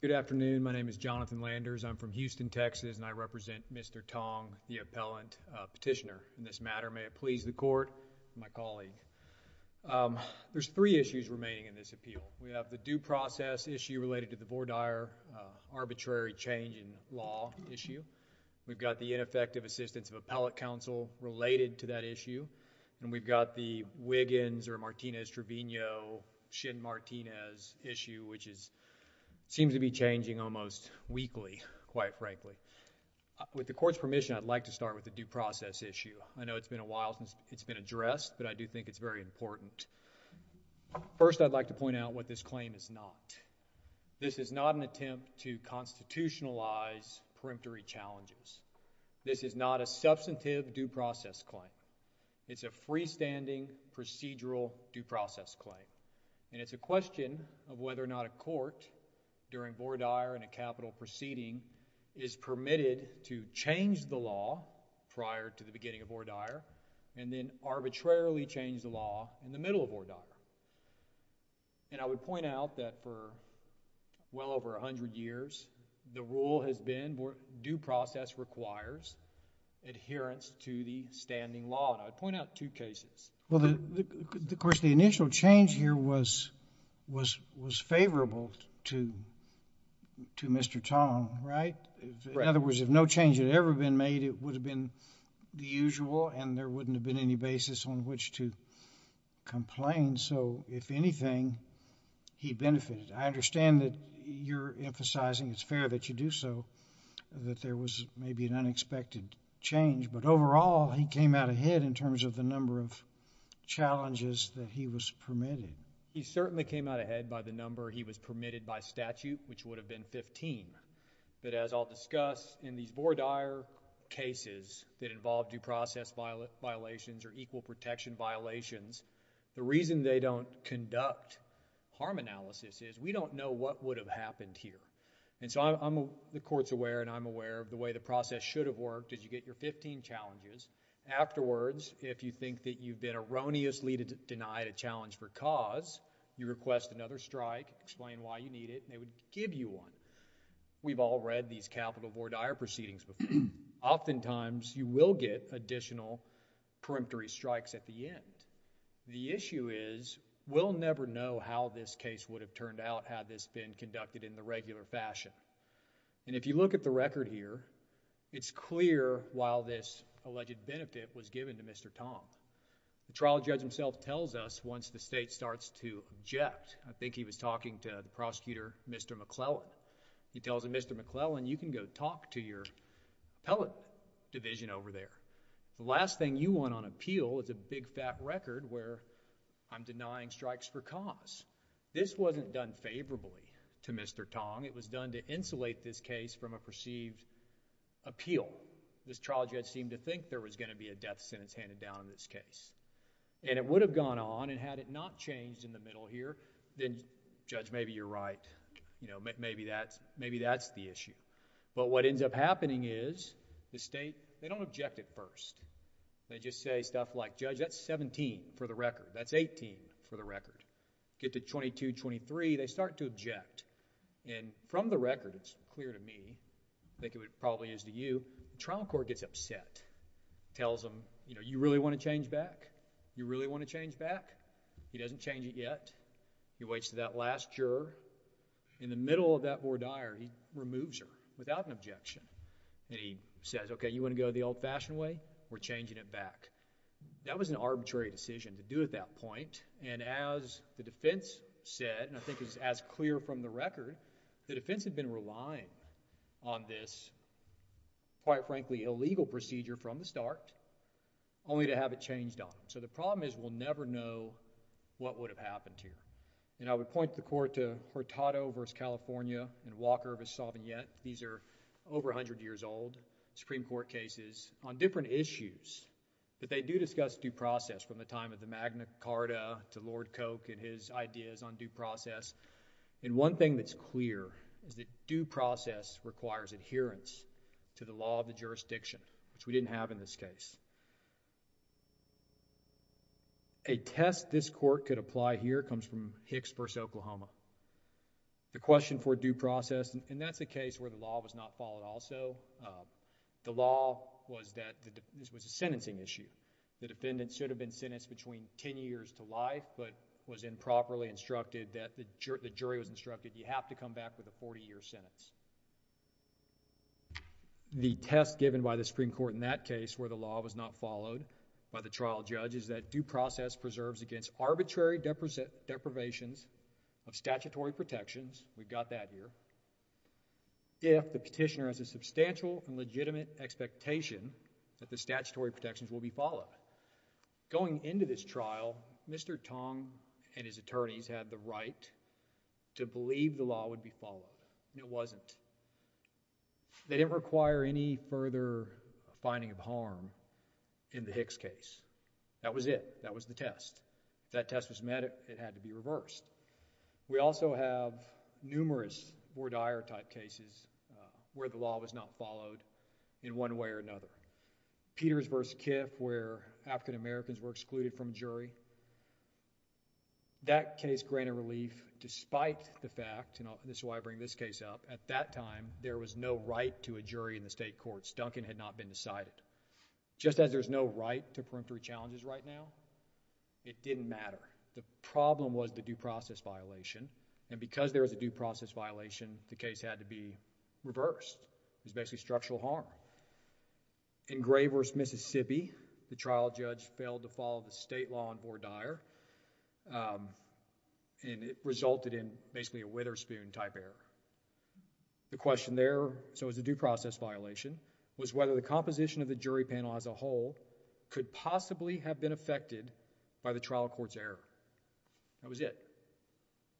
Good afternoon. My name is Jonathan Landers. I'm from Houston, Texas, and I represent Mr. Tong, the appellant petitioner in this matter. May it please the court, my colleague. There's three issues remaining in this appeal. We have the due process issue related to the Vordire arbitrary change in law issue. We've got the ineffective assistance of appellate counsel related to that issue, and we've got the Wiggins or Martinez-Trevino-Shinn-Martinez issue, which seems to be changing almost weekly, quite frankly. With the court's permission, I'd like to start with the due process issue. I know it's been a while since it's been addressed, but I do think it's very important. First, I'd like to point out what this claim is not. This is not an attempt to constitutionalize peremptory challenges. This is not a substantive due process claim. It's a freestanding procedural due process claim, and it's a question of whether or not a court, during Vordire and a capital proceeding, is permitted to change the law prior to the beginning of Vordire and then arbitrarily change the law in the well over a hundred years. The rule has been due process requires adherence to the standing law, and I'd point out two cases. Well, of course, the initial change here was favorable to Mr. Tong, right? In other words, if no change had ever been made, it would have been the usual, and there wouldn't have been any basis on which to complain. So, if anything, he benefited. I understand that you're emphasizing it's fair that you do so, that there was maybe an unexpected change, but overall, he came out ahead in terms of the number of challenges that he was permitted. He certainly came out ahead by the number he was permitted by statute, which would have been 15. But as I'll discuss, in these Vordire cases that involve due process violations or equal protection violations, the reason they don't conduct harm analysis is we don't know what would have happened here. And so, the court's aware and I'm aware of the way the process should have worked is you get your 15 challenges. Afterwards, if you think that you've been erroneously denied a challenge for cause, you request another strike, explain why you need it, and they would give you one. We've all read these capital Vordire proceedings before. Oftentimes, you will get additional preemptory strikes at the end. The issue is we'll never know how this case would have turned out had this been conducted in the regular fashion. And if you look at the record here, it's clear while this alleged benefit was given to Mr. Tong. The trial judge himself tells us once the state starts to Mr. McClellan. He tells him, Mr. McClellan, you can go talk to your appellate division over there. The last thing you want on appeal is a big fat record where I'm denying strikes for cause. This wasn't done favorably to Mr. Tong. It was done to insulate this case from a perceived appeal. This trial judge seemed to think there was going to be a death sentence handed down in this case. And it would have gone on and had it not changed in the middle here, then, Judge, maybe you're right. Maybe that's the issue. But what ends up happening is the state, they don't object at first. They just say stuff like, Judge, that's 17 for the record. That's 18 for the record. Get to 22, 23, they start to object. And from the record, it's clear to me, I think it probably is to you, the trial court gets upset. Tells him, you know, you really want to change back? You really want to change back? He doesn't change it yet. He waits for that last juror. In the middle of that voir dire, he removes her without an objection. And he says, okay, you want to go the old-fashioned way? We're changing it back. That was an arbitrary decision to do at that point. And as the defense said, and I think it's as clear from the record, the defense had been relying on this, quite frankly, illegal procedure from the start, only to have it changed on. So the problem is we'll never know what would have happened here. And I would point the court to Hurtado v. California and Walker v. Sauvignette. These are over 100 years old Supreme Court cases on different issues. But they do discuss due process from the time of the Magna Carta to Lord Coke and his ideas on due process. And one thing that's clear is that due process requires adherence to the law of the jurisdiction, which we didn't have in this case. A test this court could apply here comes from Hicks v. Oklahoma. The question for due process, and that's a case where the law was not followed also. The law was that this was a sentencing issue. The defendant should have been sentenced between 10 years to life, but was improperly instructed that the jury was instructed you have to come back with a 40-year sentence. The test given by the Supreme Court in that case where the law was not followed by the jury, due process preserves against arbitrary deprivations of statutory protections. We've got that here. If the petitioner has a substantial and legitimate expectation that the statutory protections will be followed. Going into this trial, Mr. Tong and his attorneys had the right to believe the law would be followed. It wasn't. They didn't require any further finding of harm in the Hicks case. That was it. That was the test. If that test was met, it had to be reversed. We also have numerous Bordier type cases where the law was not followed in one way or another. Peters v. Kiff where African Americans were excluded from jury. That case granted relief despite the fact, and this is why I bring this case up, at that time there was no right to a jury in the state courts. Duncan had not been decided. Just as there's no right to preemptory challenges right now, it didn't matter. The problem was the due process violation, and because there was a due process violation, the case had to be reversed. It was basically structural harm. In Graver's, Mississippi, the trial judge failed to follow the state law on Bordier, and it resulted in basically a Witherspoon type error. The question there, so it was a due process violation, was whether the composition of the jury panel as a whole could possibly have been affected by the trial court's error. That was it.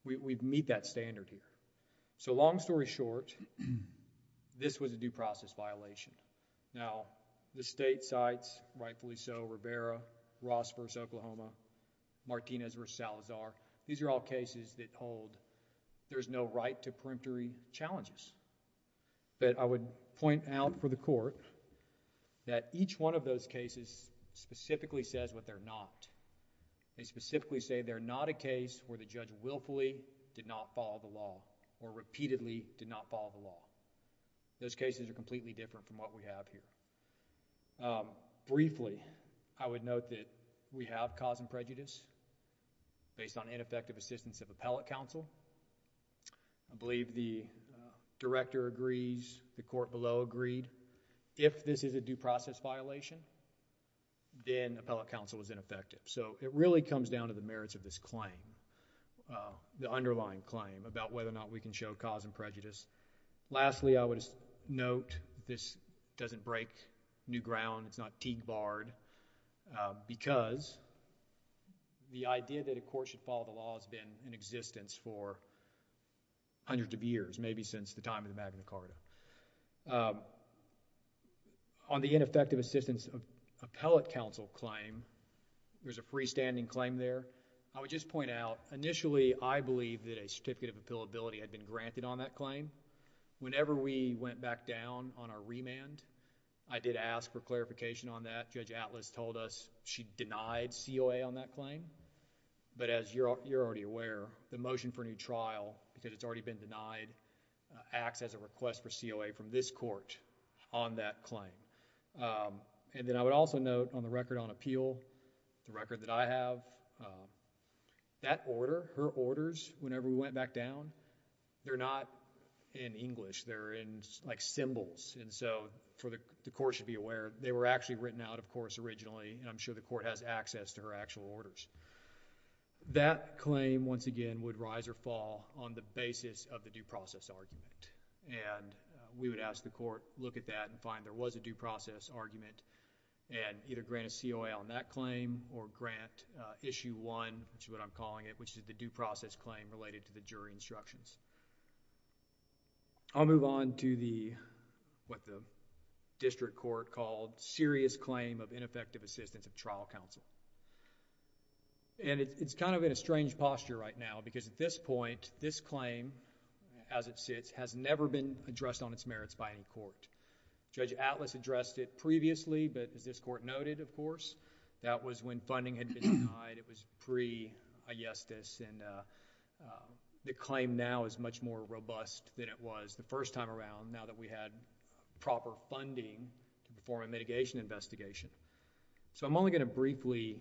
We meet that standard here. So long story short, this was a due process violation. Now the state sites, rightfully so, Rivera, Ross v. Oklahoma, Martinez v. Salazar, these are all cases that hold there's no right to preemptory challenges. But I would point out for the court that each one of those cases specifically says what they're not. They specifically say they're not a case where the judge willfully did not follow the law, or repeatedly did not follow the law. Those cases are completely different from what we have here. Briefly, I would note that we have cause and prejudice based on ineffective assistance of appellate counsel. I believe the director agrees, the court below agreed, if this is a due process violation, then appellate counsel is ineffective. So it really comes down to the merits of this claim, the underlying claim about whether or not we can show cause and prejudice down, it's not Teague Bard, because the idea that a court should follow the law has been in existence for hundreds of years, maybe since the time of the Magna Carta. On the ineffective assistance of appellate counsel claim, there's a freestanding claim there. I would just point out, initially I believed that a certificate of appealability had been granted on that claim. Whenever we went back down on our remand, I did ask for clarification on that. Judge Atlas told us she denied COA on that claim, but as you're already aware, the motion for a new trial, because it's already been denied, acts as a request for COA from this court on that claim. And then I would also note on the record on appeal, the record that I have, that order, her orders, whenever we went back down, they're not in English. They're in, like, symbols. And so, the court should be aware, they were actually written out, of course, originally, and I'm sure the court has access to her actual orders. That claim, once again, would rise or fall on the basis of the due process argument. And we would ask the court, look at that and find there was a due process argument and either grant a COA on that claim or grant Issue 1, which is what I'm calling it, which is the due process claim related to the jury instructions. I'll move on to the, what the district court called serious claim of ineffective assistance of trial counsel. And it's kind of in a strange posture right now, because at this point, this claim, as it sits, has never been addressed on its merits by any court. Judge Atlas addressed it previously, but as this court noted, of course, that was when funding had been denied. It was pre-Ayestas and the claim now is much more robust than it was the first time around, now that we had proper funding to perform a mitigation investigation. So, I'm only going to briefly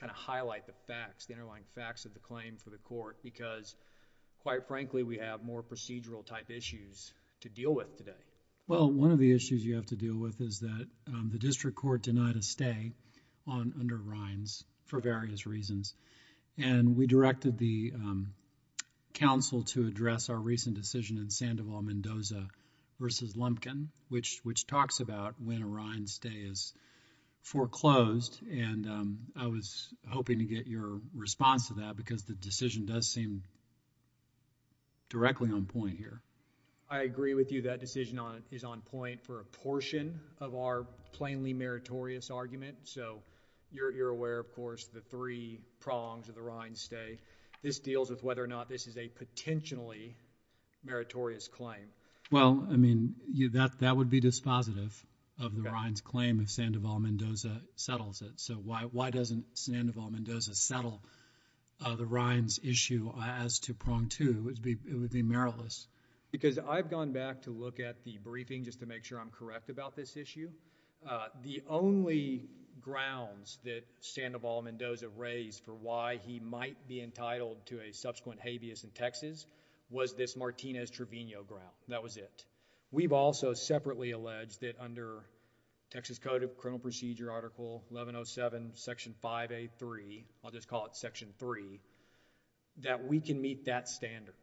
kind of highlight the facts, the underlying facts of the claim for the court, because quite frankly, we have more procedural type issues to deal with today. Well, one of the issues you have to deal with is that the district court denied a stay on Arrines for various reasons. And we directed the counsel to address our recent decision in Sandoval-Mendoza v. Lumpkin, which talks about when Arrines' stay is foreclosed. And I was hoping to get your response to that, because the decision does seem directly on point here. I agree with you. That decision is on point for a portion of our plainly meritorious argument. So, you're aware, of course, the three prongs of the Arrines' stay. This deals with whether or not this is a potentially meritorious claim. Well, I mean, that would be dispositive of the Arrines' claim if Sandoval-Mendoza settles it. So, why doesn't Sandoval-Mendoza settle the Arrines' issue as to prong two? It would be meritless. Because I've gone back to look at the briefing, just to make sure I'm correct about this issue. The only grounds that Sandoval-Mendoza raised for why he might be entitled to a subsequent habeas in Texas was this Martinez-Trevino ground. That was it. We've also separately alleged that under Texas Code of Criminal Procedure Article 1107, Section 5A3, I'll just call it Section 3, that we can meet that standard.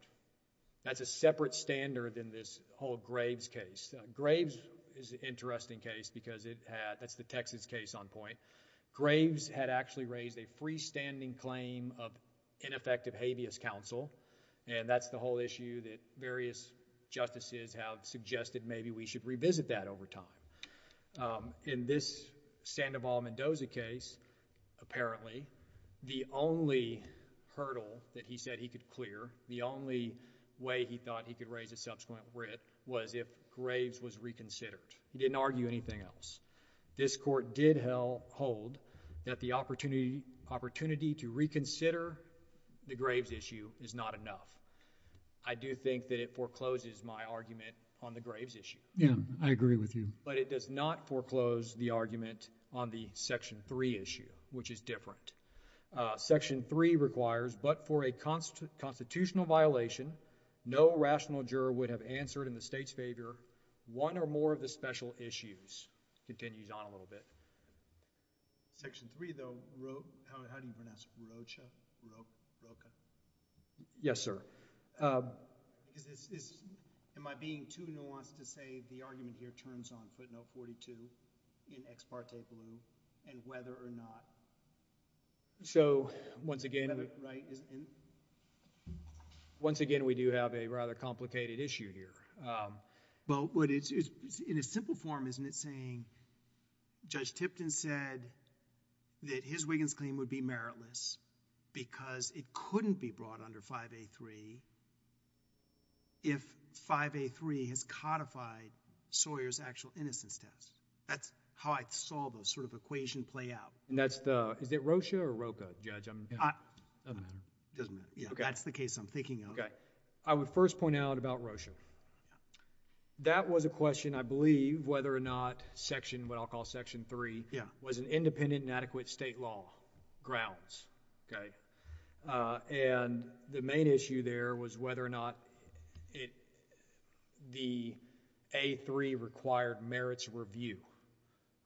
That's a separate standard than this whole Graves case. Graves is interesting case because it had, that's the Texas case on point. Graves had actually raised a freestanding claim of ineffective habeas counsel, and that's the whole issue that various justices have suggested maybe we should revisit that over time. In this Sandoval-Mendoza case, apparently, the only hurdle that he said he could clear, the only way he thought he could raise a subsequent writ was if Graves was reconsidered. He didn't argue anything else. This court did hold that the opportunity to reconsider the Graves issue is not enough. I do think that it forecloses my argument on the Graves issue. Yeah, I agree with you. But it does not foreclose the argument on the Section 3 issue, which is different. Section 3 requires, but for a constitutional violation, no rational juror would have answered in the state's favor one or more of the special issues. Continues on a little bit. Section 3, though, how do you pronounce it? Rocha? Yes, sir. Am I being too nuanced to say the argument here turns on footnote 42 in ex parte blue and whether or not? So, once again, we do have a rather complicated issue here. But in a simple form, isn't it saying Judge Tipton said that his Wiggins claim would be meritless because it couldn't be brought under 5A3 if 5A3 has codified Sawyer's actual innocence test? That's how I saw the sort of equation play out. And that's the, is it Rocha or Rocha, Judge? It doesn't matter. That's the case I'm thinking of. Okay. I would first point out about Rocha. That was a question, I believe, whether or not Section, what I'll call Section 3, was an independent and adequate state law grounds, okay? And the main issue there was whether or not it, the A3 required merits review.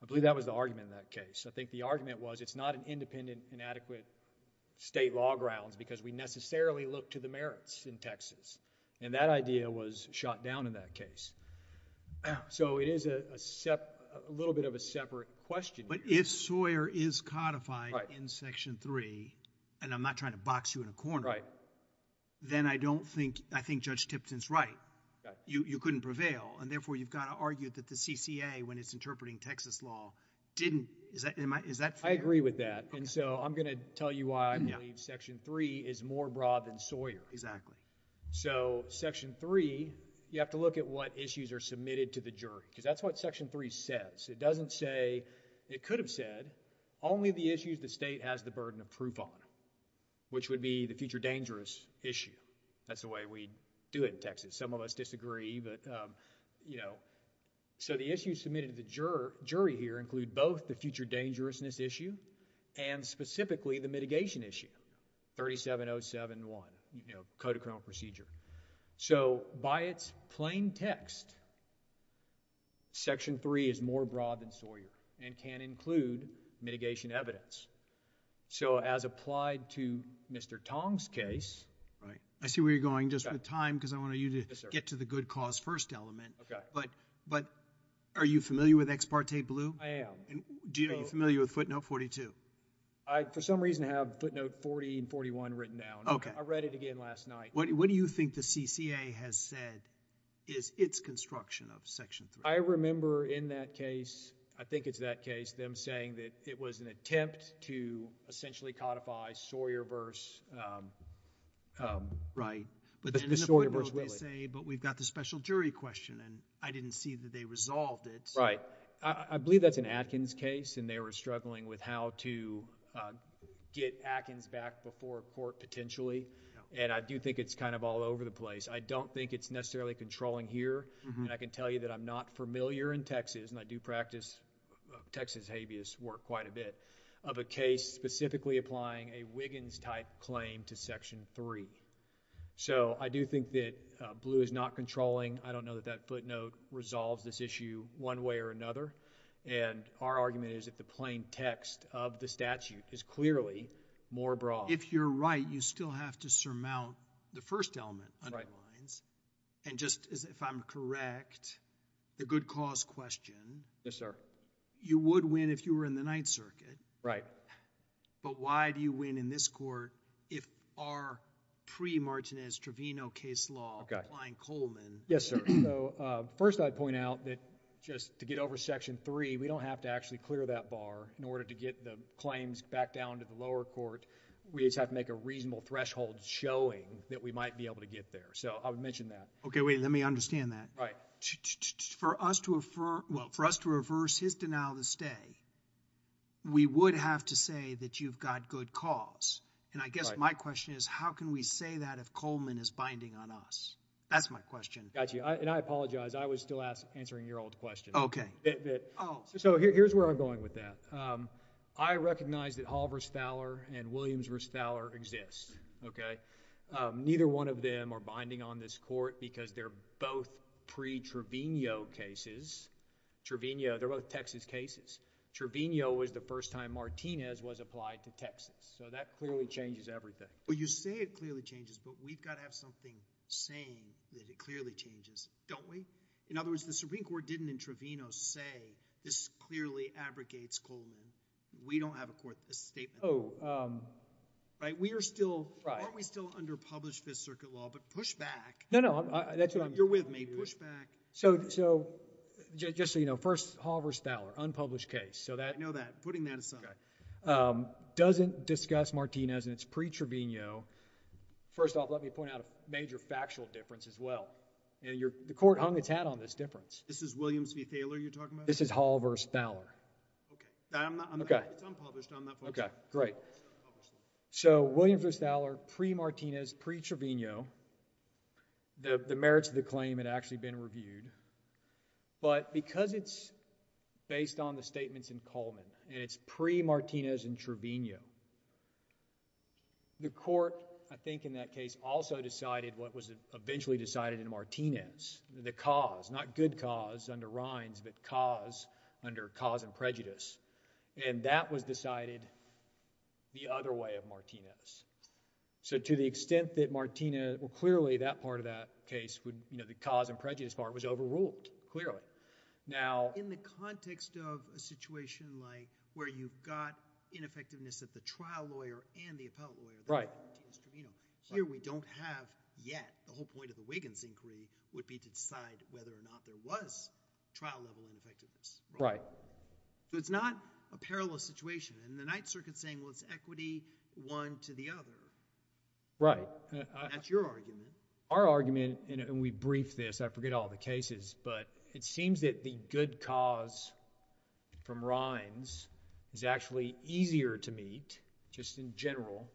I believe that was the argument in that case. I think the argument was it's not an independent and adequate state law grounds because we necessarily look to the merits in Texas. And that idea was shot down in that case. So, it is a little bit of a separate question. But if Sawyer is codified in Section 3, and I'm not trying to box you in a corner, then I don't think, I think Judge Tipton's right. You couldn't prevail. And therefore, you've got to argue that the CCA, when it's interpreting Texas law, didn't, is that fair? I agree with that. And so, I'm going to tell you why I believe Section 3 is more broad than Sawyer. Exactly. So, Section 3, you have to look at what issues are submitted to the jury. Because that's what Section 3 says. It doesn't say, it could have said, only the issues the state has the future dangerous issue. That's the way we do it in Texas. Some of us disagree, but, you know. So, the issues submitted to the jury here include both the future dangerousness issue and specifically the mitigation issue, 37071, you know, Code of Criminal Procedure. So, by its plain text, Section 3 is more broad than Sawyer and can include mitigation evidence. So, as applied to Mr. Tong's case... Right. I see where you're going, just with time, because I want you to get to the good cause first element. Okay. But, are you familiar with Ex parte Blue? I am. Do you know, are you familiar with footnote 42? I, for some reason, have footnote 40 and 41 written down. Okay. I read it again last night. What do you think the CCA has said is its construction of Section 3? I remember in that case, I think it's that case, them saying that it was an attempt to essentially codify Sawyer v... Right. But then in the footnote, they say, but we've got the special jury question, and I didn't see that they resolved it. Right. I believe that's an Atkins case, and they were struggling with how to get Atkins back before court, potentially, and I do think it's kind of all over the place. I don't think it's necessarily controlling here, and I can tell you that I'm not familiar in Texas, and I do practice Texas habeas work quite a bit, of a case specifically applying a Wiggins-type claim to Section 3. So, I do think that Blue is not controlling. I don't know that that footnote resolves this issue one way or another, and our argument is that the plain text of the statute is clearly more broad. If you're right, you still have to surmount the first element... Right. And just, if I'm correct, the good cause question... Yes, sir. You would win if you were in the Ninth Circuit... Right. But why do you win in this court if our pre-Martinez Trevino case law... Okay.... applying Coleman... Yes, sir. So, first, I'd point out that just to get over Section 3, we don't have to actually clear that bar in order to get the claims back down to the lower court. We just have to make a reasonable threshold showing that we might be able to get there. So, I would mention that. Okay, wait. Let me understand that. Right. For us to... well, for us to reverse his denial to stay, we would have to say that you've got good cause. And I guess my question is, how can we say that if Coleman is binding on us? That's my question. Got you. And I apologize. I was still answering your old question. Okay. So, here's where I'm going with that. I recognize that Hall v. Thaler and Williams v. Thaler exist. Okay. Neither one of them are binding on this court because they're both pre-Trevino cases. Trevino, they're both Texas cases. Trevino was the first time Martinez was applied to Texas. So, that clearly changes everything. Well, you say it clearly changes, but we've got to have something saying that it clearly changes, don't we? In other words, the Supreme Court didn't in Trevino say, this clearly abrogates Coleman. We don't have a statement. Oh. Right? We are still... Right. Aren't we still under published Fifth Circuit law? But push back. No, no. That's what I'm... You're with me. Push back. So, just so you know, first Hall v. Thaler, unpublished case. So, that... I know that. Putting that aside. Okay. Doesn't discuss Martinez and it's pre-Trevino. First off, let me point out a major factual difference as well. And the court hung its hat on this difference. This is Williams v. Thaler you're talking about? This is Hall v. Thaler. Okay. I'm not... It's unpublished. I'm not... Okay. Great. So, Williams v. Thaler, pre-Martinez, pre-Trevino. The merits of the claim had actually been reviewed. But because it's based on the statements in Coleman and it's pre-Martinez and Trevino, the court, I think in that case, also decided what was eventually decided in Martinez. The cause, not good cause under Rhines, but cause under cause and prejudice. And that was decided the other way of Martinez. So, to the extent that Martinez... Well, clearly that part of that case would... You know, the cause and prejudice part was overruled, clearly. Now... Ineffectiveness at the trial lawyer and the appellate lawyer. Right. Here we don't have yet. The whole point of the Wiggins inquiry would be to decide whether or not there was trial-level ineffectiveness. Right. So, it's not a parallel situation. And the Ninth Circuit's saying, well, it's equity one to the other. Right. That's your argument. Our argument, and we briefed this, I forget all the cases, but it seems that the good cause from Rhines is actually easier to meet, just in general,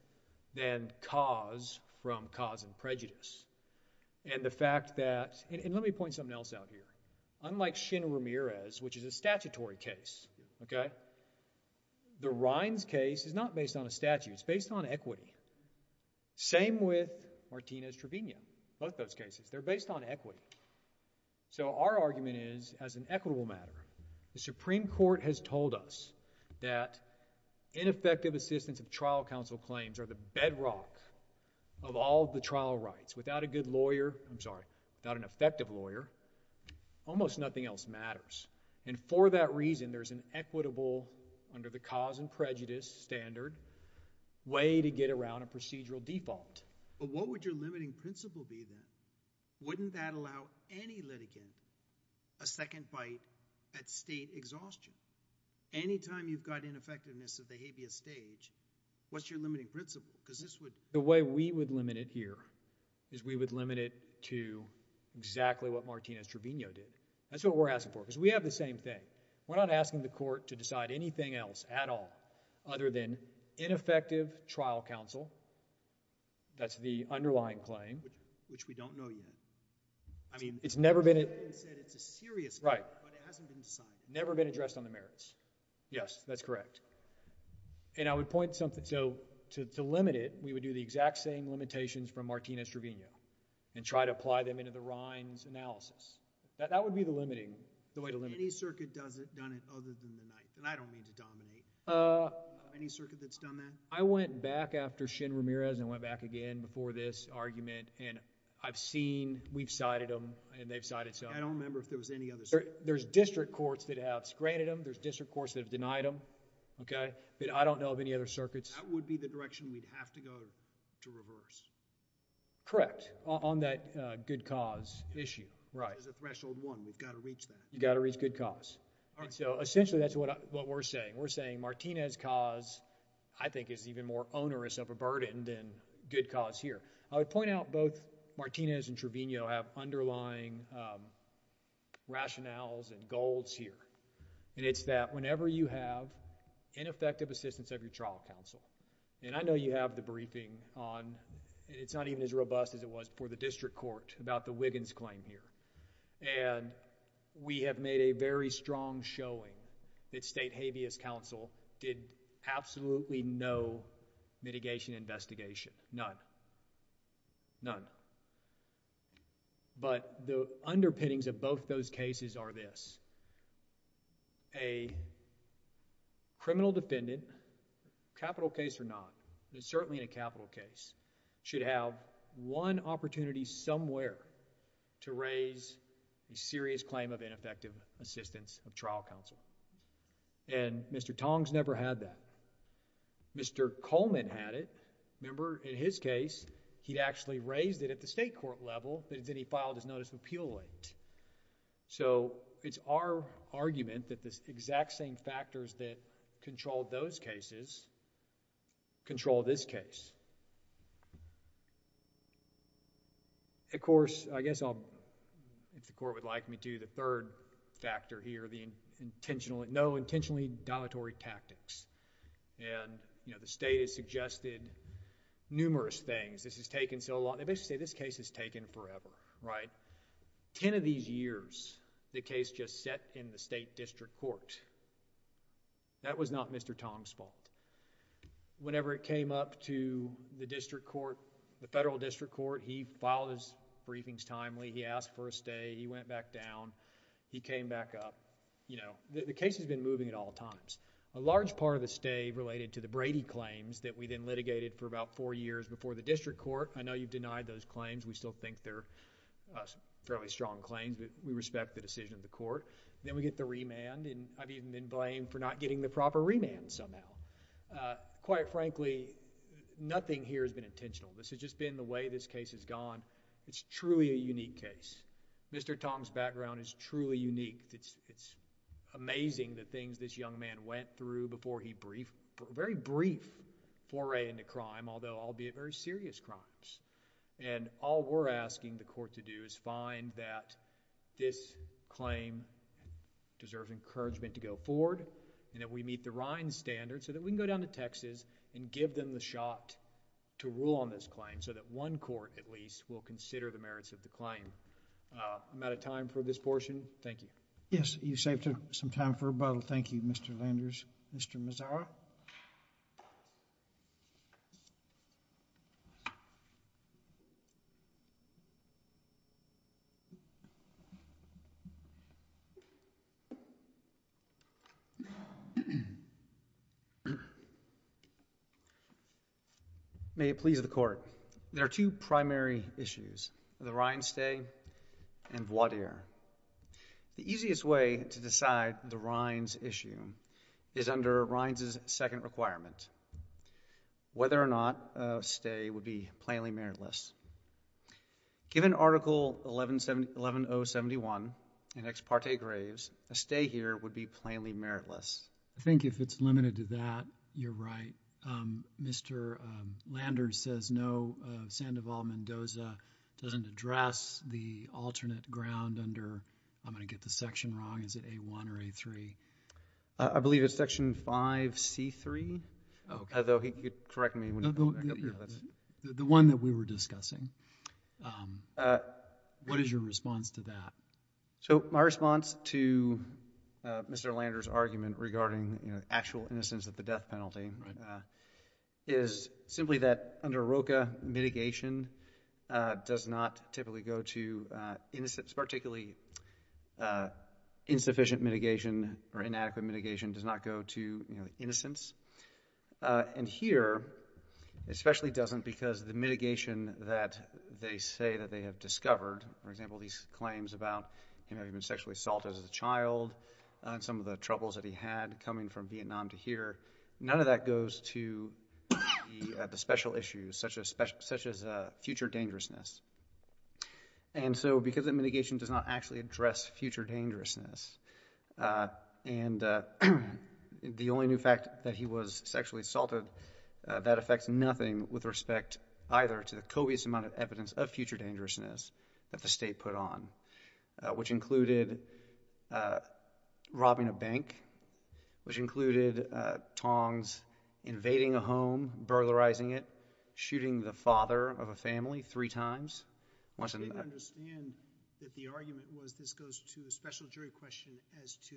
than cause from cause and prejudice. And the fact that... And let me point something else out here. Unlike Shin Ramirez, which is a statutory case, okay, the Rhines case is not based on a statute. It's based on equity. Same with Martinez-Trevino, both those cases. They're based on equity. So, our argument is, as an equitable matter, the Supreme Court has told us that ineffective assistance of trial counsel claims are the bedrock of all the trial rights. Without a good lawyer, I'm sorry, without an effective lawyer, almost nothing else matters. And for that reason, there's an equitable, under the cause and prejudice standard, way to get around a procedural default. But what would your limiting principle be then? Wouldn't that allow any litigant a second bite at state exhaustion? Anytime you've got ineffectiveness at the habeas stage, what's your limiting principle? Because this would... The way we would limit it here is we would limit it to exactly what Martinez-Trevino did. That's what we're asking for, because we have the same thing. We're not asking the court to decide anything else at all other than ineffective trial counsel that's the underlying claim. Which we don't know yet. I mean... It's never been... It's a serious claim, but it hasn't been decided. Never been addressed on the merits. Yes, that's correct. And I would point something to, to limit it, we would do the exact same limitations from Martinez-Trevino and try to apply them into the Rhine's analysis. That would be the limiting, the way to limit it. Any circuit that's done it other than the Ninth, and I don't mean to dominate. Any circuit that's done that? I went back after Shin Ramirez and went back again before this argument, and I've seen, we've cited them, and they've cited some. I don't remember if there was any other... There's district courts that have granted them. There's district courts that have denied them. Okay. But I don't know of any other circuits. That would be the direction we'd have to go to reverse. Correct. On that good cause issue. Right. There's a threshold one. We've got to reach that. You've got to reach good cause. All right. So essentially, that's what we're saying. We're saying Martinez's cause, I think, is even more onerous of a burden than good cause here. I would point out both Martinez and Trevino have underlying rationales and goals here, and it's that whenever you have ineffective assistance of your trial counsel, and I know you have the briefing on... It's not even as robust as it was before the district court about the Wiggins claim here, and we have made a very strong showing that state habeas counsel did absolutely no mitigation investigation. None. None. But the underpinnings of both those cases are this. A criminal defendant, capital case or not, but certainly in a capital case, should have one opportunity somewhere to raise a serious claim of ineffective assistance of trial counsel, and Mr. Tong's never had that. Mr. Coleman had it. Remember, in his case, he'd actually raised it at the state court level, but then he filed his notice of appeal late. So it's our argument that the exact same factors that controlled those cases control this case. Of course, I guess I'll... If the court would like me to, the third factor here, the intentional... No intentionally dilatory tactics. And, you know, the state has suggested numerous things. This has taken so long. They basically say this case has taken forever, right? Ten of these years, the case just sat in the state district court. That was not Mr. Tong's fault. Whenever it came up to the district court, the federal district court, he filed his briefings timely. He asked for a stay. He went back down. He came back up. You know, the case has been moving at all times. A large part of the stay related to the Brady claims that we then litigated for about four years before the district court. I know you've denied those claims. We still think they're fairly strong claims, but we respect the decision of the court. Then we get the remand, and I've even been blamed for not getting the proper remand somehow. Quite frankly, nothing here has been intentional. This has just been the way this case has gone. It's truly a unique case. Mr. Tong's background is truly unique. It's amazing the things this young man went through before he briefed... very brief foray into crime, although albeit very serious crimes. And all we're asking the court to do is find that this claim deserves encouragement to go forward, and that we meet the RINES standard so that we can go down to Texas and give them the shot to rule on this claim so that one court, at least, will consider the merits of the claim. I'm out of time for this portion. Thank you. Yes, you saved some time for rebuttal. Thank you, Mr. Landers. Mr. Mazzara? May it please the Court. There are two primary issues, the RINES stay and voir dire. The easiest way to decide the RINES issue is under RINES' second requirement, whether or not a stay would be plainly meritless. Given Article 11071 in Ex Parte Graves, a stay here would be plainly meritless. I think if it's limited to that, you're right. Mr. Landers says no. Sandoval Mendoza doesn't address the alternate ground under... I'm going to get the section wrong. Is it A-1 or A-3? I believe it's Section 5C-3, although he could correct me. The one that we were discussing. What is your response to that? So my response to Mr. Landers' argument regarding actual innocence at the death penalty is simply that under AROCA, mitigation does not typically go to innocence, particularly insufficient mitigation or inadequate mitigation does not go to innocence. And here, it especially doesn't because the mitigation that they say that they have discovered, for example, these claims about him having been sexually assaulted as a child and some of the troubles that he had coming from Vietnam to here, none of that goes to the special issues such as future dangerousness. And so because the mitigation does not actually address future dangerousness and the only new fact that he was sexually assaulted, that affects nothing with respect either to the covious amount of evidence of future dangerousness that the state put on, which included robbing a bank, which included Tongs invading a home, burglarizing it, shooting the father of a family three times. I don't understand that the argument was this goes to a special jury question as to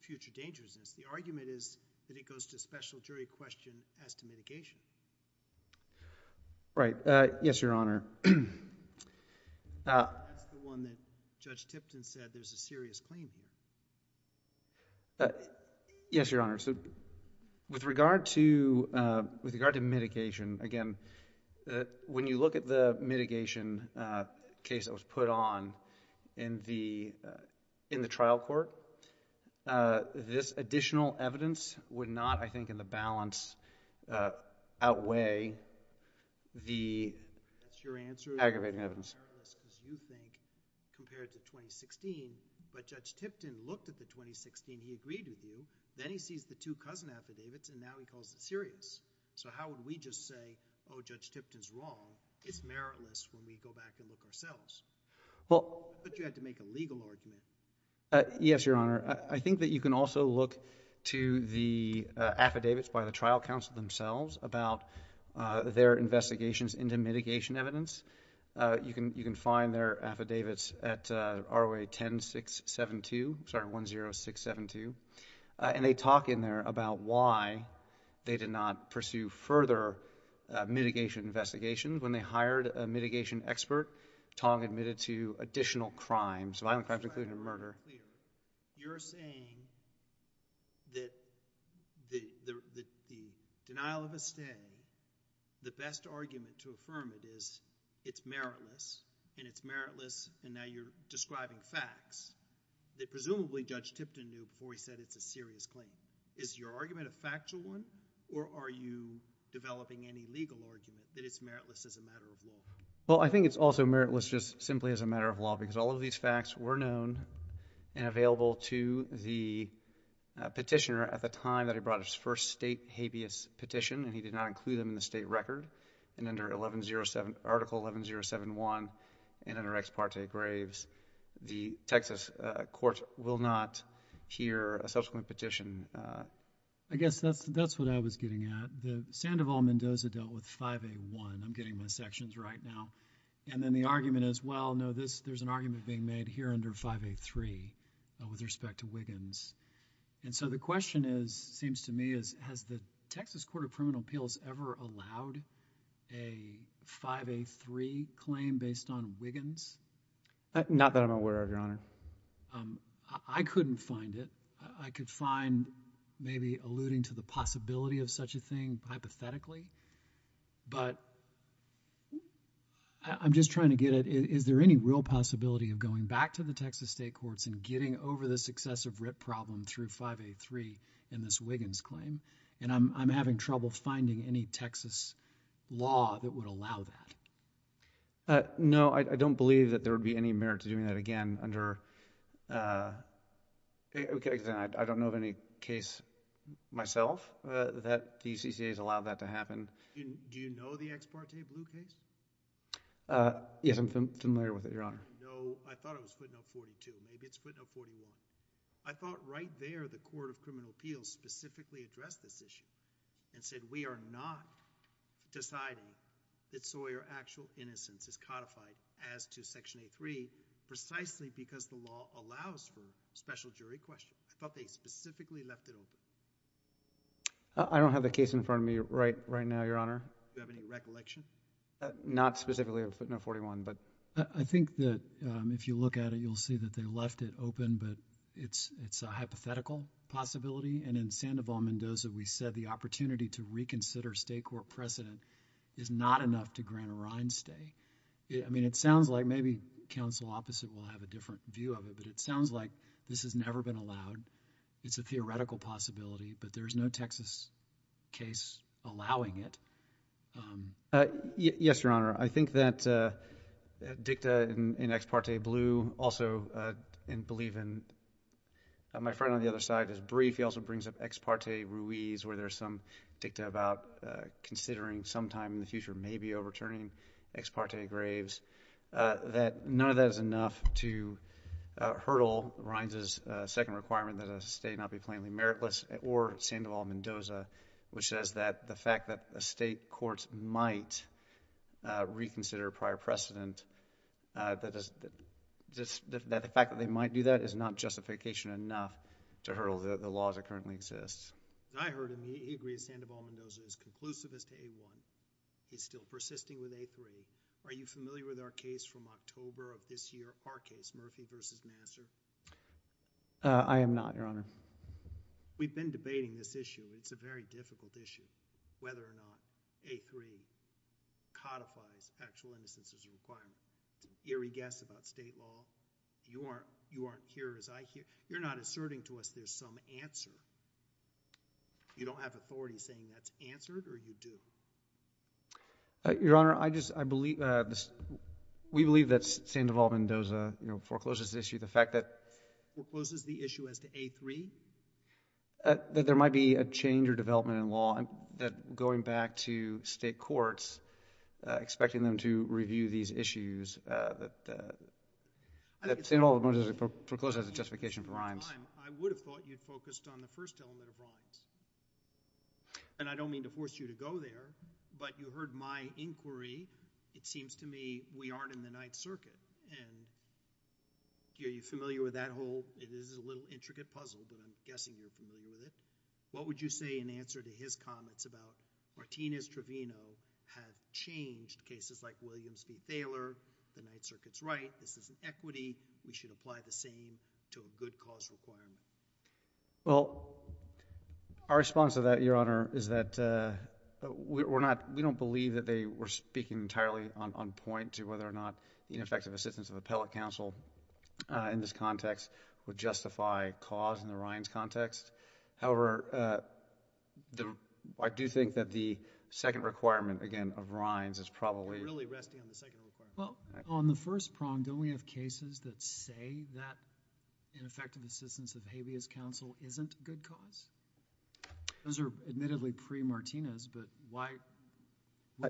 future dangerousness. The argument is that it goes to a special jury question as to mitigation. Right. Yes, Your Honor. That's the one that Judge Tipton said there's a serious claim here. Yes, Your Honor. So with regard to mitigation, again, when you look at the mitigation case that was put on in the trial court, this additional evidence would not, I think, in the balance outweigh the aggravating evidence. Because you think compared to 2016, but Judge Tipton looked at the 2016, he agreed with you. Then he sees the two cousin affidavits and now he calls it serious. So how would we just say, oh, Judge Tipton's wrong. It's meritless when we go back and look ourselves. Well, but you had to make a legal argument. Yes, Your Honor. I think that you can also look to the affidavits by the trial counsel themselves about their investigations into mitigation evidence. You can find their affidavits at ROA 10672. Sorry, 10672. And they talk in there about why they did not pursue further mitigation investigations. When they hired a mitigation expert, Tong admitted to additional crimes, violent crimes including murder. You're saying that the denial of a stay, the best argument to affirm it is it's meritless and it's meritless and now you're describing facts that presumably Judge Tipton knew before he said it's a serious claim. Is your argument a factual one or are you developing any legal argument that it's meritless as a matter of law? Well, I think it's also meritless just simply as a matter of law because all of these facts were known and available to the petitioner at the time that he brought his first state habeas petition and he did not include them in the state record. And under 1107, Article 11071 and under Ex Parte Graves, the Texas court will not hear a subsequent petition. I guess that's what I was getting at. The Sandoval-Mendoza dealt with 5A1. I'm getting my sections right now. And then the argument is, well, no, there's an argument being made here under 5A3 with respect to Wiggins. And so the question is, seems to me, is has the Texas Court of Criminal Appeals ever allowed a 5A3 claim based on Wiggins? Not that I'm aware of, Your Honor. I couldn't find it. I could find maybe alluding to the possibility of such a thing hypothetically. But I'm just trying to get it. Is there any real possibility of going back to the Texas state courts and getting over the successive writ problem through 5A3 in this Wiggins claim? And I'm having trouble finding any Texas law that would allow that. No, I don't believe that there would be any merit to doing that. Again, under... okay, I don't know of any case myself that the UCCA has allowed that to happen. Do you know the Ex Parte Blue case? Yes, I'm familiar with it, Your Honor. No, I thought it was footnote 42. Maybe it's footnote 41. I thought right there the Court of Criminal Appeals specifically addressed this issue and said we are not deciding that Sawyer actual innocence is codified as to section A3 precisely because the law allows for special jury questions. I thought they specifically left it open. I don't have the case in front of me right now, Your Honor. Do you have any recollection? Not specifically of footnote 41, but... I think that if you look at it, you'll see that they left it open, but it's a hypothetical possibility. And in Sandoval-Mendoza, we said the opportunity to reconsider state court precedent is not enough to grant a rein stay. I mean, it sounds like maybe counsel opposite will have a different view of it, but it sounds like this has never been allowed. It's a theoretical possibility, but there's no Texas case allowing it. Yes, Your Honor. I think that Dicta and Ex Parte Blue also, and believe in... my friend on the other side is brief. He also brings up Ex Parte Ruiz where there's some Dicta about considering sometime in the graves that none of that is enough to hurdle Reins' second requirement that a stay not be plainly meritless or Sandoval-Mendoza, which says that the fact that a state court might reconsider prior precedent, that the fact that they might do that is not justification enough to hurdle the laws that currently exist. I heard him. He agrees Sandoval-Mendoza is conclusivist to A1. He's still persisting with A3. Are you familiar with our case from October of this year, our case, Murphy v. Nassar? I am not, Your Honor. We've been debating this issue. It's a very difficult issue whether or not A3 codifies actual innocence as a requirement. It's an eerie guess about state law. You aren't here as I hear. You're not asserting to us there's some answer. You don't have authority saying that's answered or you do? Your Honor, we believe that Sandoval-Mendoza forecloses the issue as to A3. That there might be a change or development in law, that going back to state courts, expecting them to review these issues, that Sandoval-Mendoza forecloses as a justification for Reins. I would have thought you'd focused on the first element of Reins. And I don't mean to force you to go there, but you heard my inquiry. It seems to me we aren't in the Ninth Circuit. And are you familiar with that whole? It is a little intricate puzzle, but I'm guessing you're familiar with it. What would you say in answer to his comments about Martinez-Trevino have changed cases like Williams v. Thaler? The Ninth Circuit's right. This is an equity. We should apply the same to a good cause requirement. Well, our response to that, Your Honor, is that we don't believe that they were speaking entirely on point to whether or not ineffective assistance of appellate counsel in this context would justify cause in the Reins context. However, I do think that the second requirement, again, of Reins is probably... You're really resting on the second requirement. Well, on the first prong, don't we have cases that say that ineffective assistance of habeas counsel isn't a good cause? Those are admittedly pre-Martinez, but why...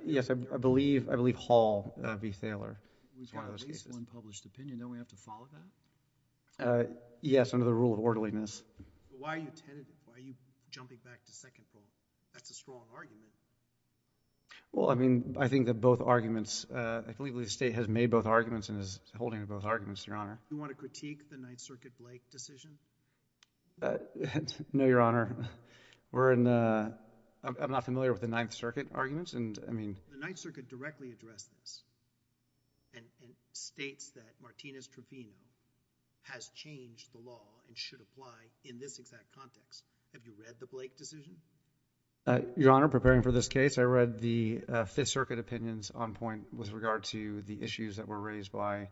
Yes, I believe Hall v. Thaler. We've got at least one published opinion. Don't we have to follow that? Yes, under the rule of orderliness. Why are you jumping back to second rule? That's a strong argument. Well, I mean, I think that both arguments... I believe the State has made both arguments and is holding to both arguments, Your Honor. Do you want to critique the Ninth Circuit Blake decision? No, Your Honor. We're in a... I'm not familiar with the Ninth Circuit arguments, and I mean... The Ninth Circuit directly addressed this and states that Martinez-Trofino has changed the law and should apply in this exact context. Have you read the Blake decision? Uh, Your Honor, preparing for this case, I read the Fifth Circuit opinions on point with regard to the issues that were raised by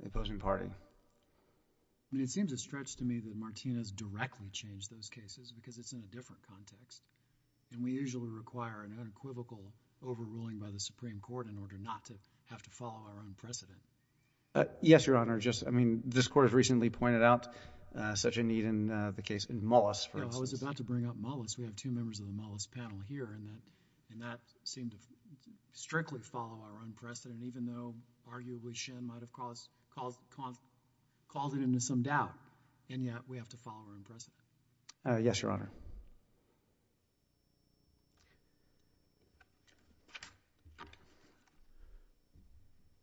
the opposing party. I mean, it seems a stretch to me that Martinez directly changed those cases because it's in a different context, and we usually require an unequivocal overruling by the Supreme Court in order not to have to follow our own precedent. Yes, Your Honor, just... I mean, this Court has recently pointed out such a need in the case in Mullis, for instance. I was about to bring up Mullis. We have two members of the Mullis panel here, and that seemed to strictly follow our own precedent, even though, arguably, Shen might have caused it into some doubt, and yet, we have to follow our own precedent. Yes, Your Honor.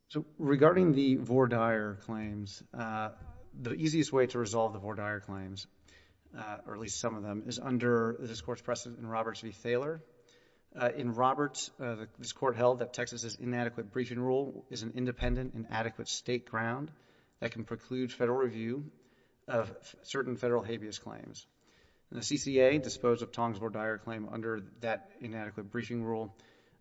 So, regarding the Vordaer claims, the easiest way to resolve the Vordaer claims, or at least some of them, is under this Court's precedent in Roberts v. Thaler. In Roberts, this Court held that Texas's inadequate briefing rule is an independent and adequate state ground that can preclude Federal review of certain Federal habeas claims. The CCA disposed of Tongs Vordaer claim under that inadequate briefing rule,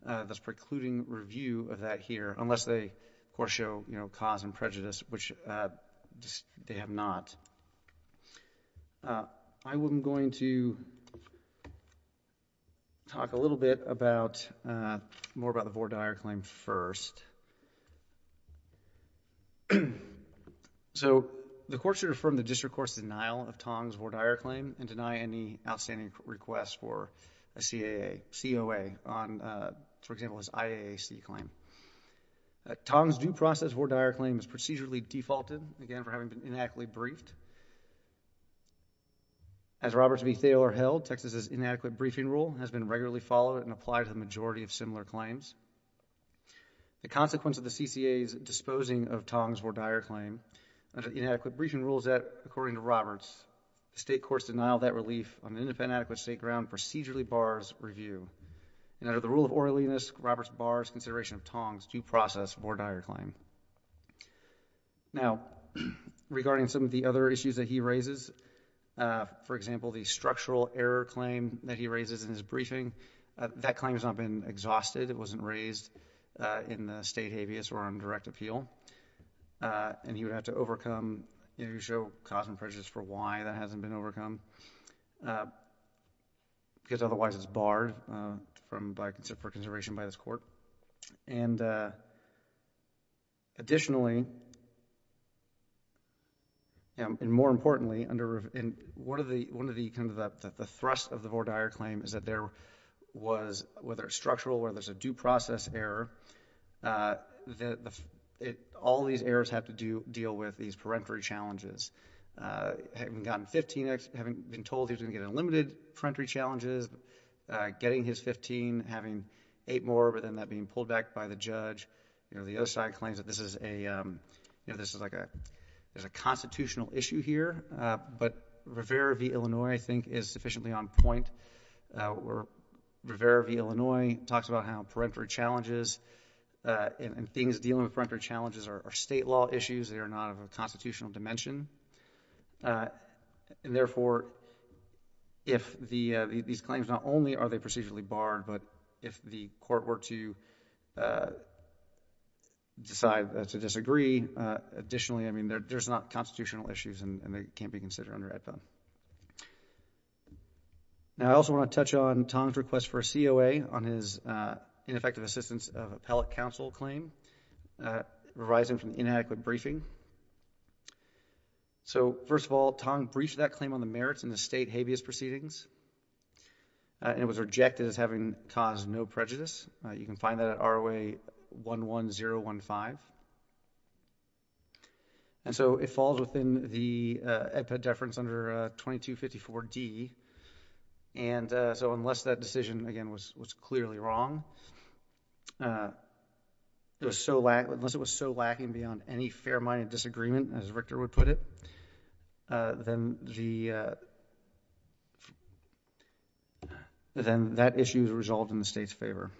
thus precluding review of that here, unless they, of course, show cause and prejudice, which they have not. I am going to talk a little bit about, more about the Vordaer claim first. So, the Court should affirm the District Court's denial of Tongs Vordaer claim and deny any outstanding request for a CAA, COA on, for example, his IAAC claim. Tongs due process Vordaer claim is procedurally defaulted, again, for having been inadequately briefed. As Roberts v. Thaler held, Texas's inadequate briefing rule has been regularly followed and applied to the majority of similar claims. The consequence of the CCA's disposing of Tongs Vordaer claim under the inadequate briefing rule is that, according to Roberts, the State Courts denial of that relief on an independent and adequate state ground procedurally bars review. And under the rule of oralliness, Roberts bars consideration of Tongs due process Vordaer claim. Now, regarding some of the other issues that he raises, for example, the structural error claim that he raises in his briefing, that claim has not been exhausted. It wasn't raised in the State habeas or on direct appeal. And he would have to overcome, you know, show cause and prejudice for why that hasn't been overcome, because otherwise it's barred from, by, for consideration by this Court. And additionally, and more importantly, under one of the, kind of the thrust of the Vordaer claim is that there was, whether it's structural or there's a due process error, all these errors have to deal with these parentory challenges. Having gotten 15, having been told he was going to get unlimited parentory challenges, getting his 15, having eight more, but then that being pulled back by the judge. You know, the other side claims that this is a, you know, this is like a, there's a constitutional issue here. But Rivera v. Illinois, I think, is sufficiently on point. Rivera v. Illinois talks about how parentory challenges and things dealing with parentory challenges are state law issues. They are not of a constitutional dimension. And therefore, if the, these claims not only are they procedurally barred, but if the Court were to decide to disagree, additionally, I mean, there's not constitutional issues and they can't be considered under ADPON. Now, I also want to touch on Tong's request for a COA on his ineffective assistance of appellate counsel claim, revising from inadequate briefing. So, first of all, Tong breached that claim on the merits in the state habeas proceedings, and it was rejected as having caused no prejudice. You can find that at ROA 11015. And so, it falls within the epideference under 2254D. And so, unless that decision, again, was clearly wrong, it was so lack, unless it was so lacking beyond any fair-minded disagreement, as Richter would put it, then the, then that issue is resolved in the state's favor.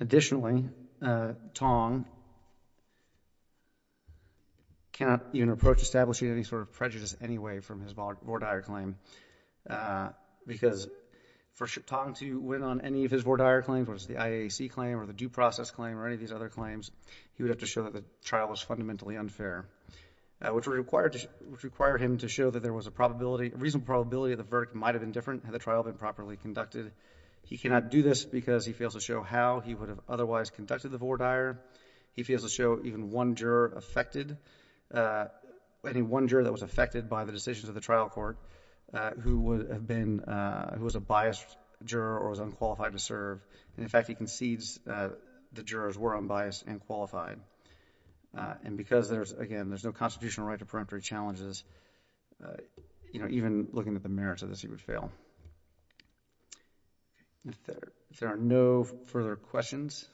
Additionally, Tong cannot even approach establishing any sort of prejudice anyway from his IAC claim or the due process claim or any of these other claims. He would have to show that the trial was fundamentally unfair, which required, which required him to show that there was a probability, a reasonable probability that the verdict might have been different had the trial been properly conducted. He cannot do this because he fails to show how he would have otherwise conducted the vore dire. He fails to show even one juror affected, any one juror that was affected by the decisions of the trial court who would have been, who was a biased juror or was unqualified to serve. And in fact, he concedes that the jurors were unbiased and qualified. And because there's, again, there's no constitutional right to preemptory challenges, you know, even looking at the merits of this, he would fail. If there, if there are no further questions,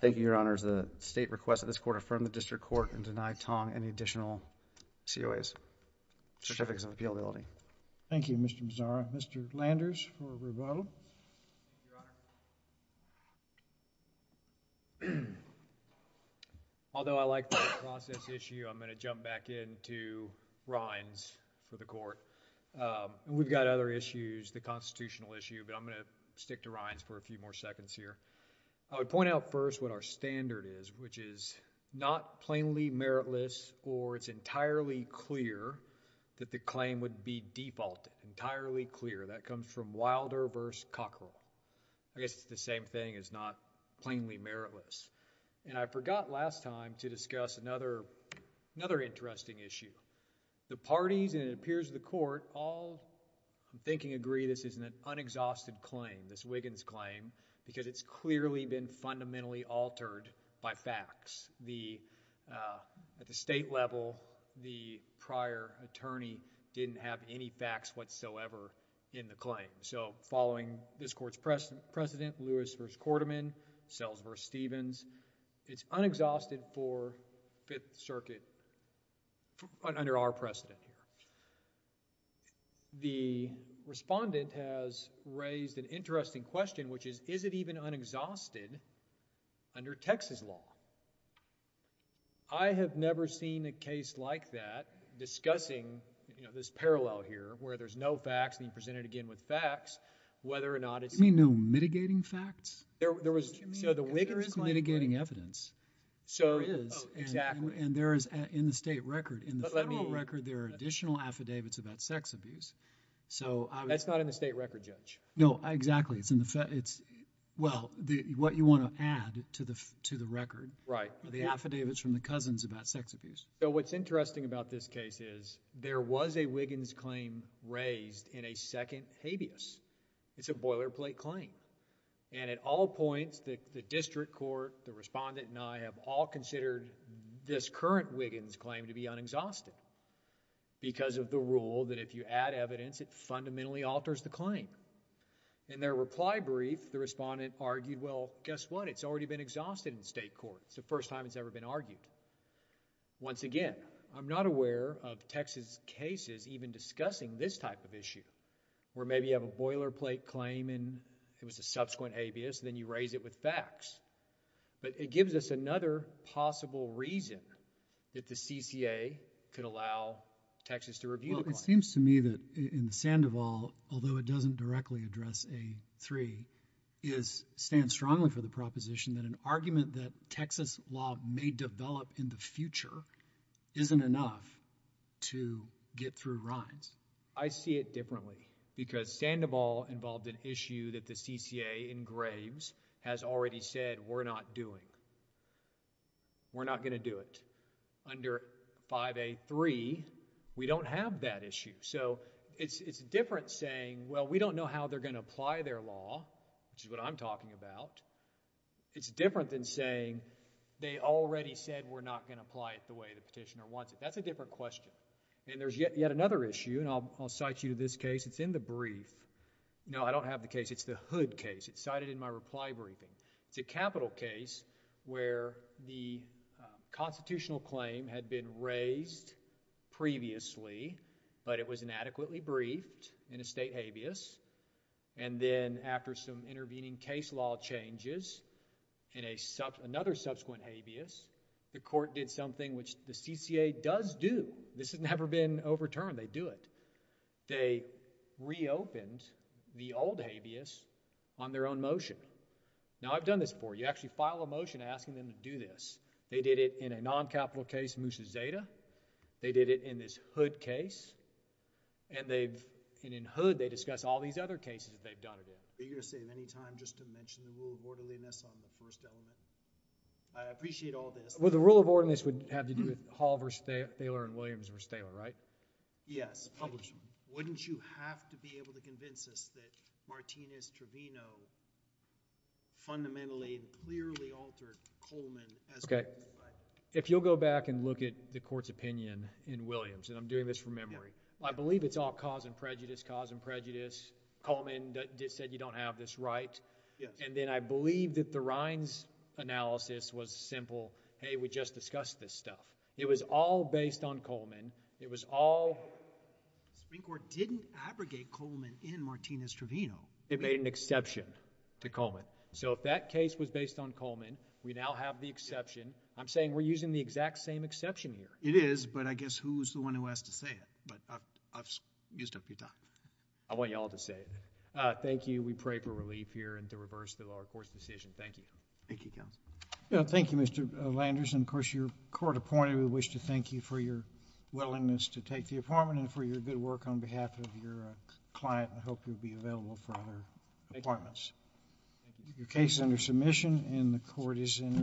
thank you, Your Honors. The state requests that this Court affirm the district court and deny Tong any additional COAs, certificates of appealability. Thank you, Mr. Mazzara. Mr. Landers for rebuttal. Although I like the process issue, I'm going to jump back into Rines for the Court. We've got other issues, the constitutional issue, but I'm going to stick to Rines for a few more seconds here. I would point out first what our standard is, which is not plainly meritless or it's entirely clear that the claim would be defaulted. Entirely clear. That comes from Wilder v. Cockerell. I guess it's the same thing. It's not plainly meritless. And I forgot last time to discuss another, another interesting issue. The parties and it appears the Court all, I'm thinking, agree this is an unexhausted claim, this Wiggins claim, because it's clearly been fundamentally altered by facts. The, at the state level, the prior attorney didn't have any facts whatsoever in the claim. So, following this Court's precedent, Lewis v. Quarterman, Sells v. Stevens, it's unexhausted for Fifth Circuit under our precedent here. The respondent has raised an interesting question, which is, is it even unexhausted under Texas law? I have never seen a case like that discussing, you know, this parallel here where there's no facts and you present it again with facts, whether or not it's... You mean no mitigating facts? There, there was... So the Wiggins claim... Mitigating evidence. So... There is. And there is, in the state record, in the federal record... Additional affidavits about sex abuse. So... That's not in the state record, Judge. No, exactly. It's in the, it's, well, the, what you want to add to the, to the record. Right. The affidavits from the cousins about sex abuse. So what's interesting about this case is, there was a Wiggins claim raised in a second habeas. It's a boilerplate claim. And at all points, the, the district court, the respondent and I have all considered this current Wiggins claim to be unexhausted because of the rule that if you add evidence, it fundamentally alters the claim. In their reply brief, the respondent argued, well, guess what? It's already been exhausted in state court. It's the first time it's ever been argued. Once again, I'm not aware of Texas cases even discussing this type of issue where maybe you have a boilerplate claim and it was a subsequent habeas and then you raise it with facts. But it gives us another possible reason that the CCA could allow Texas to review the claim. Well, it seems to me that in the Sandoval, although it doesn't directly address A3, is, stands strongly for the proposition that an argument that Texas law may develop in the future isn't enough to get through Rhines. I see it differently because Sandoval involved an issue that the CCA in Graves has already said we're not doing. We're not going to do it. Under 5A3, we don't have that issue. So it's, it's different saying, well, we don't know how they're going to apply their law, which is what I'm talking about. It's different than saying they already said we're not going to apply it the way the petitioner wants it. That's a different question. And there's yet, another issue, and I'll, I'll cite you to this case. It's in the brief. No, I don't have the case. It's the Hood case. It's cited in my reply briefing. It's a capital case where the constitutional claim had been raised previously, but it was inadequately briefed in a state habeas. And then after some intervening case law changes in a sub, another subsequent habeas, the court did something which the CCA does do. This has never been overturned. They do it. They reopened the old habeas on their own motion. Now, I've done this before. You actually file a motion asking them to do this. They did it in a non-capital case, Musa Zayda. They did it in this Hood case. And they've, and in Hood, they discuss all these other cases that they've done it in. Are you going to save any time just to mention the rule of orderliness on the first element? I appreciate all this. Well, the rule of orderliness would have to do with Hall v. Thaler and Williams v. Thaler, right? Yes, publish them. Wouldn't you have to be able to convince us that Martinez Trevino fundamentally and clearly altered Coleman? Okay. If you'll go back and look at the court's opinion in Williams, and I'm doing this from memory. Well, I believe it's all cause and prejudice, cause and prejudice. Coleman said you don't have this right. Yes. And I believe that the Rines analysis was simple, hey, we just discussed this stuff. It was all based on Coleman. It was all. The Supreme Court didn't abrogate Coleman in Martinez Trevino. It made an exception to Coleman. So if that case was based on Coleman, we now have the exception. I'm saying we're using the exact same exception here. It is, but I guess who's the one who has to say it? But I've used up your time. I want you all to say it. Thank you. We pray for relief here and to reverse the lower court's decision. Thank you. Thank you, counsel. Thank you, Mr. Landers. And of course, your court appointed, we wish to thank you for your willingness to take the appointment and for your good work on behalf of your client. I hope you'll be available for other appointments. Your case is under submission and the court is in recess.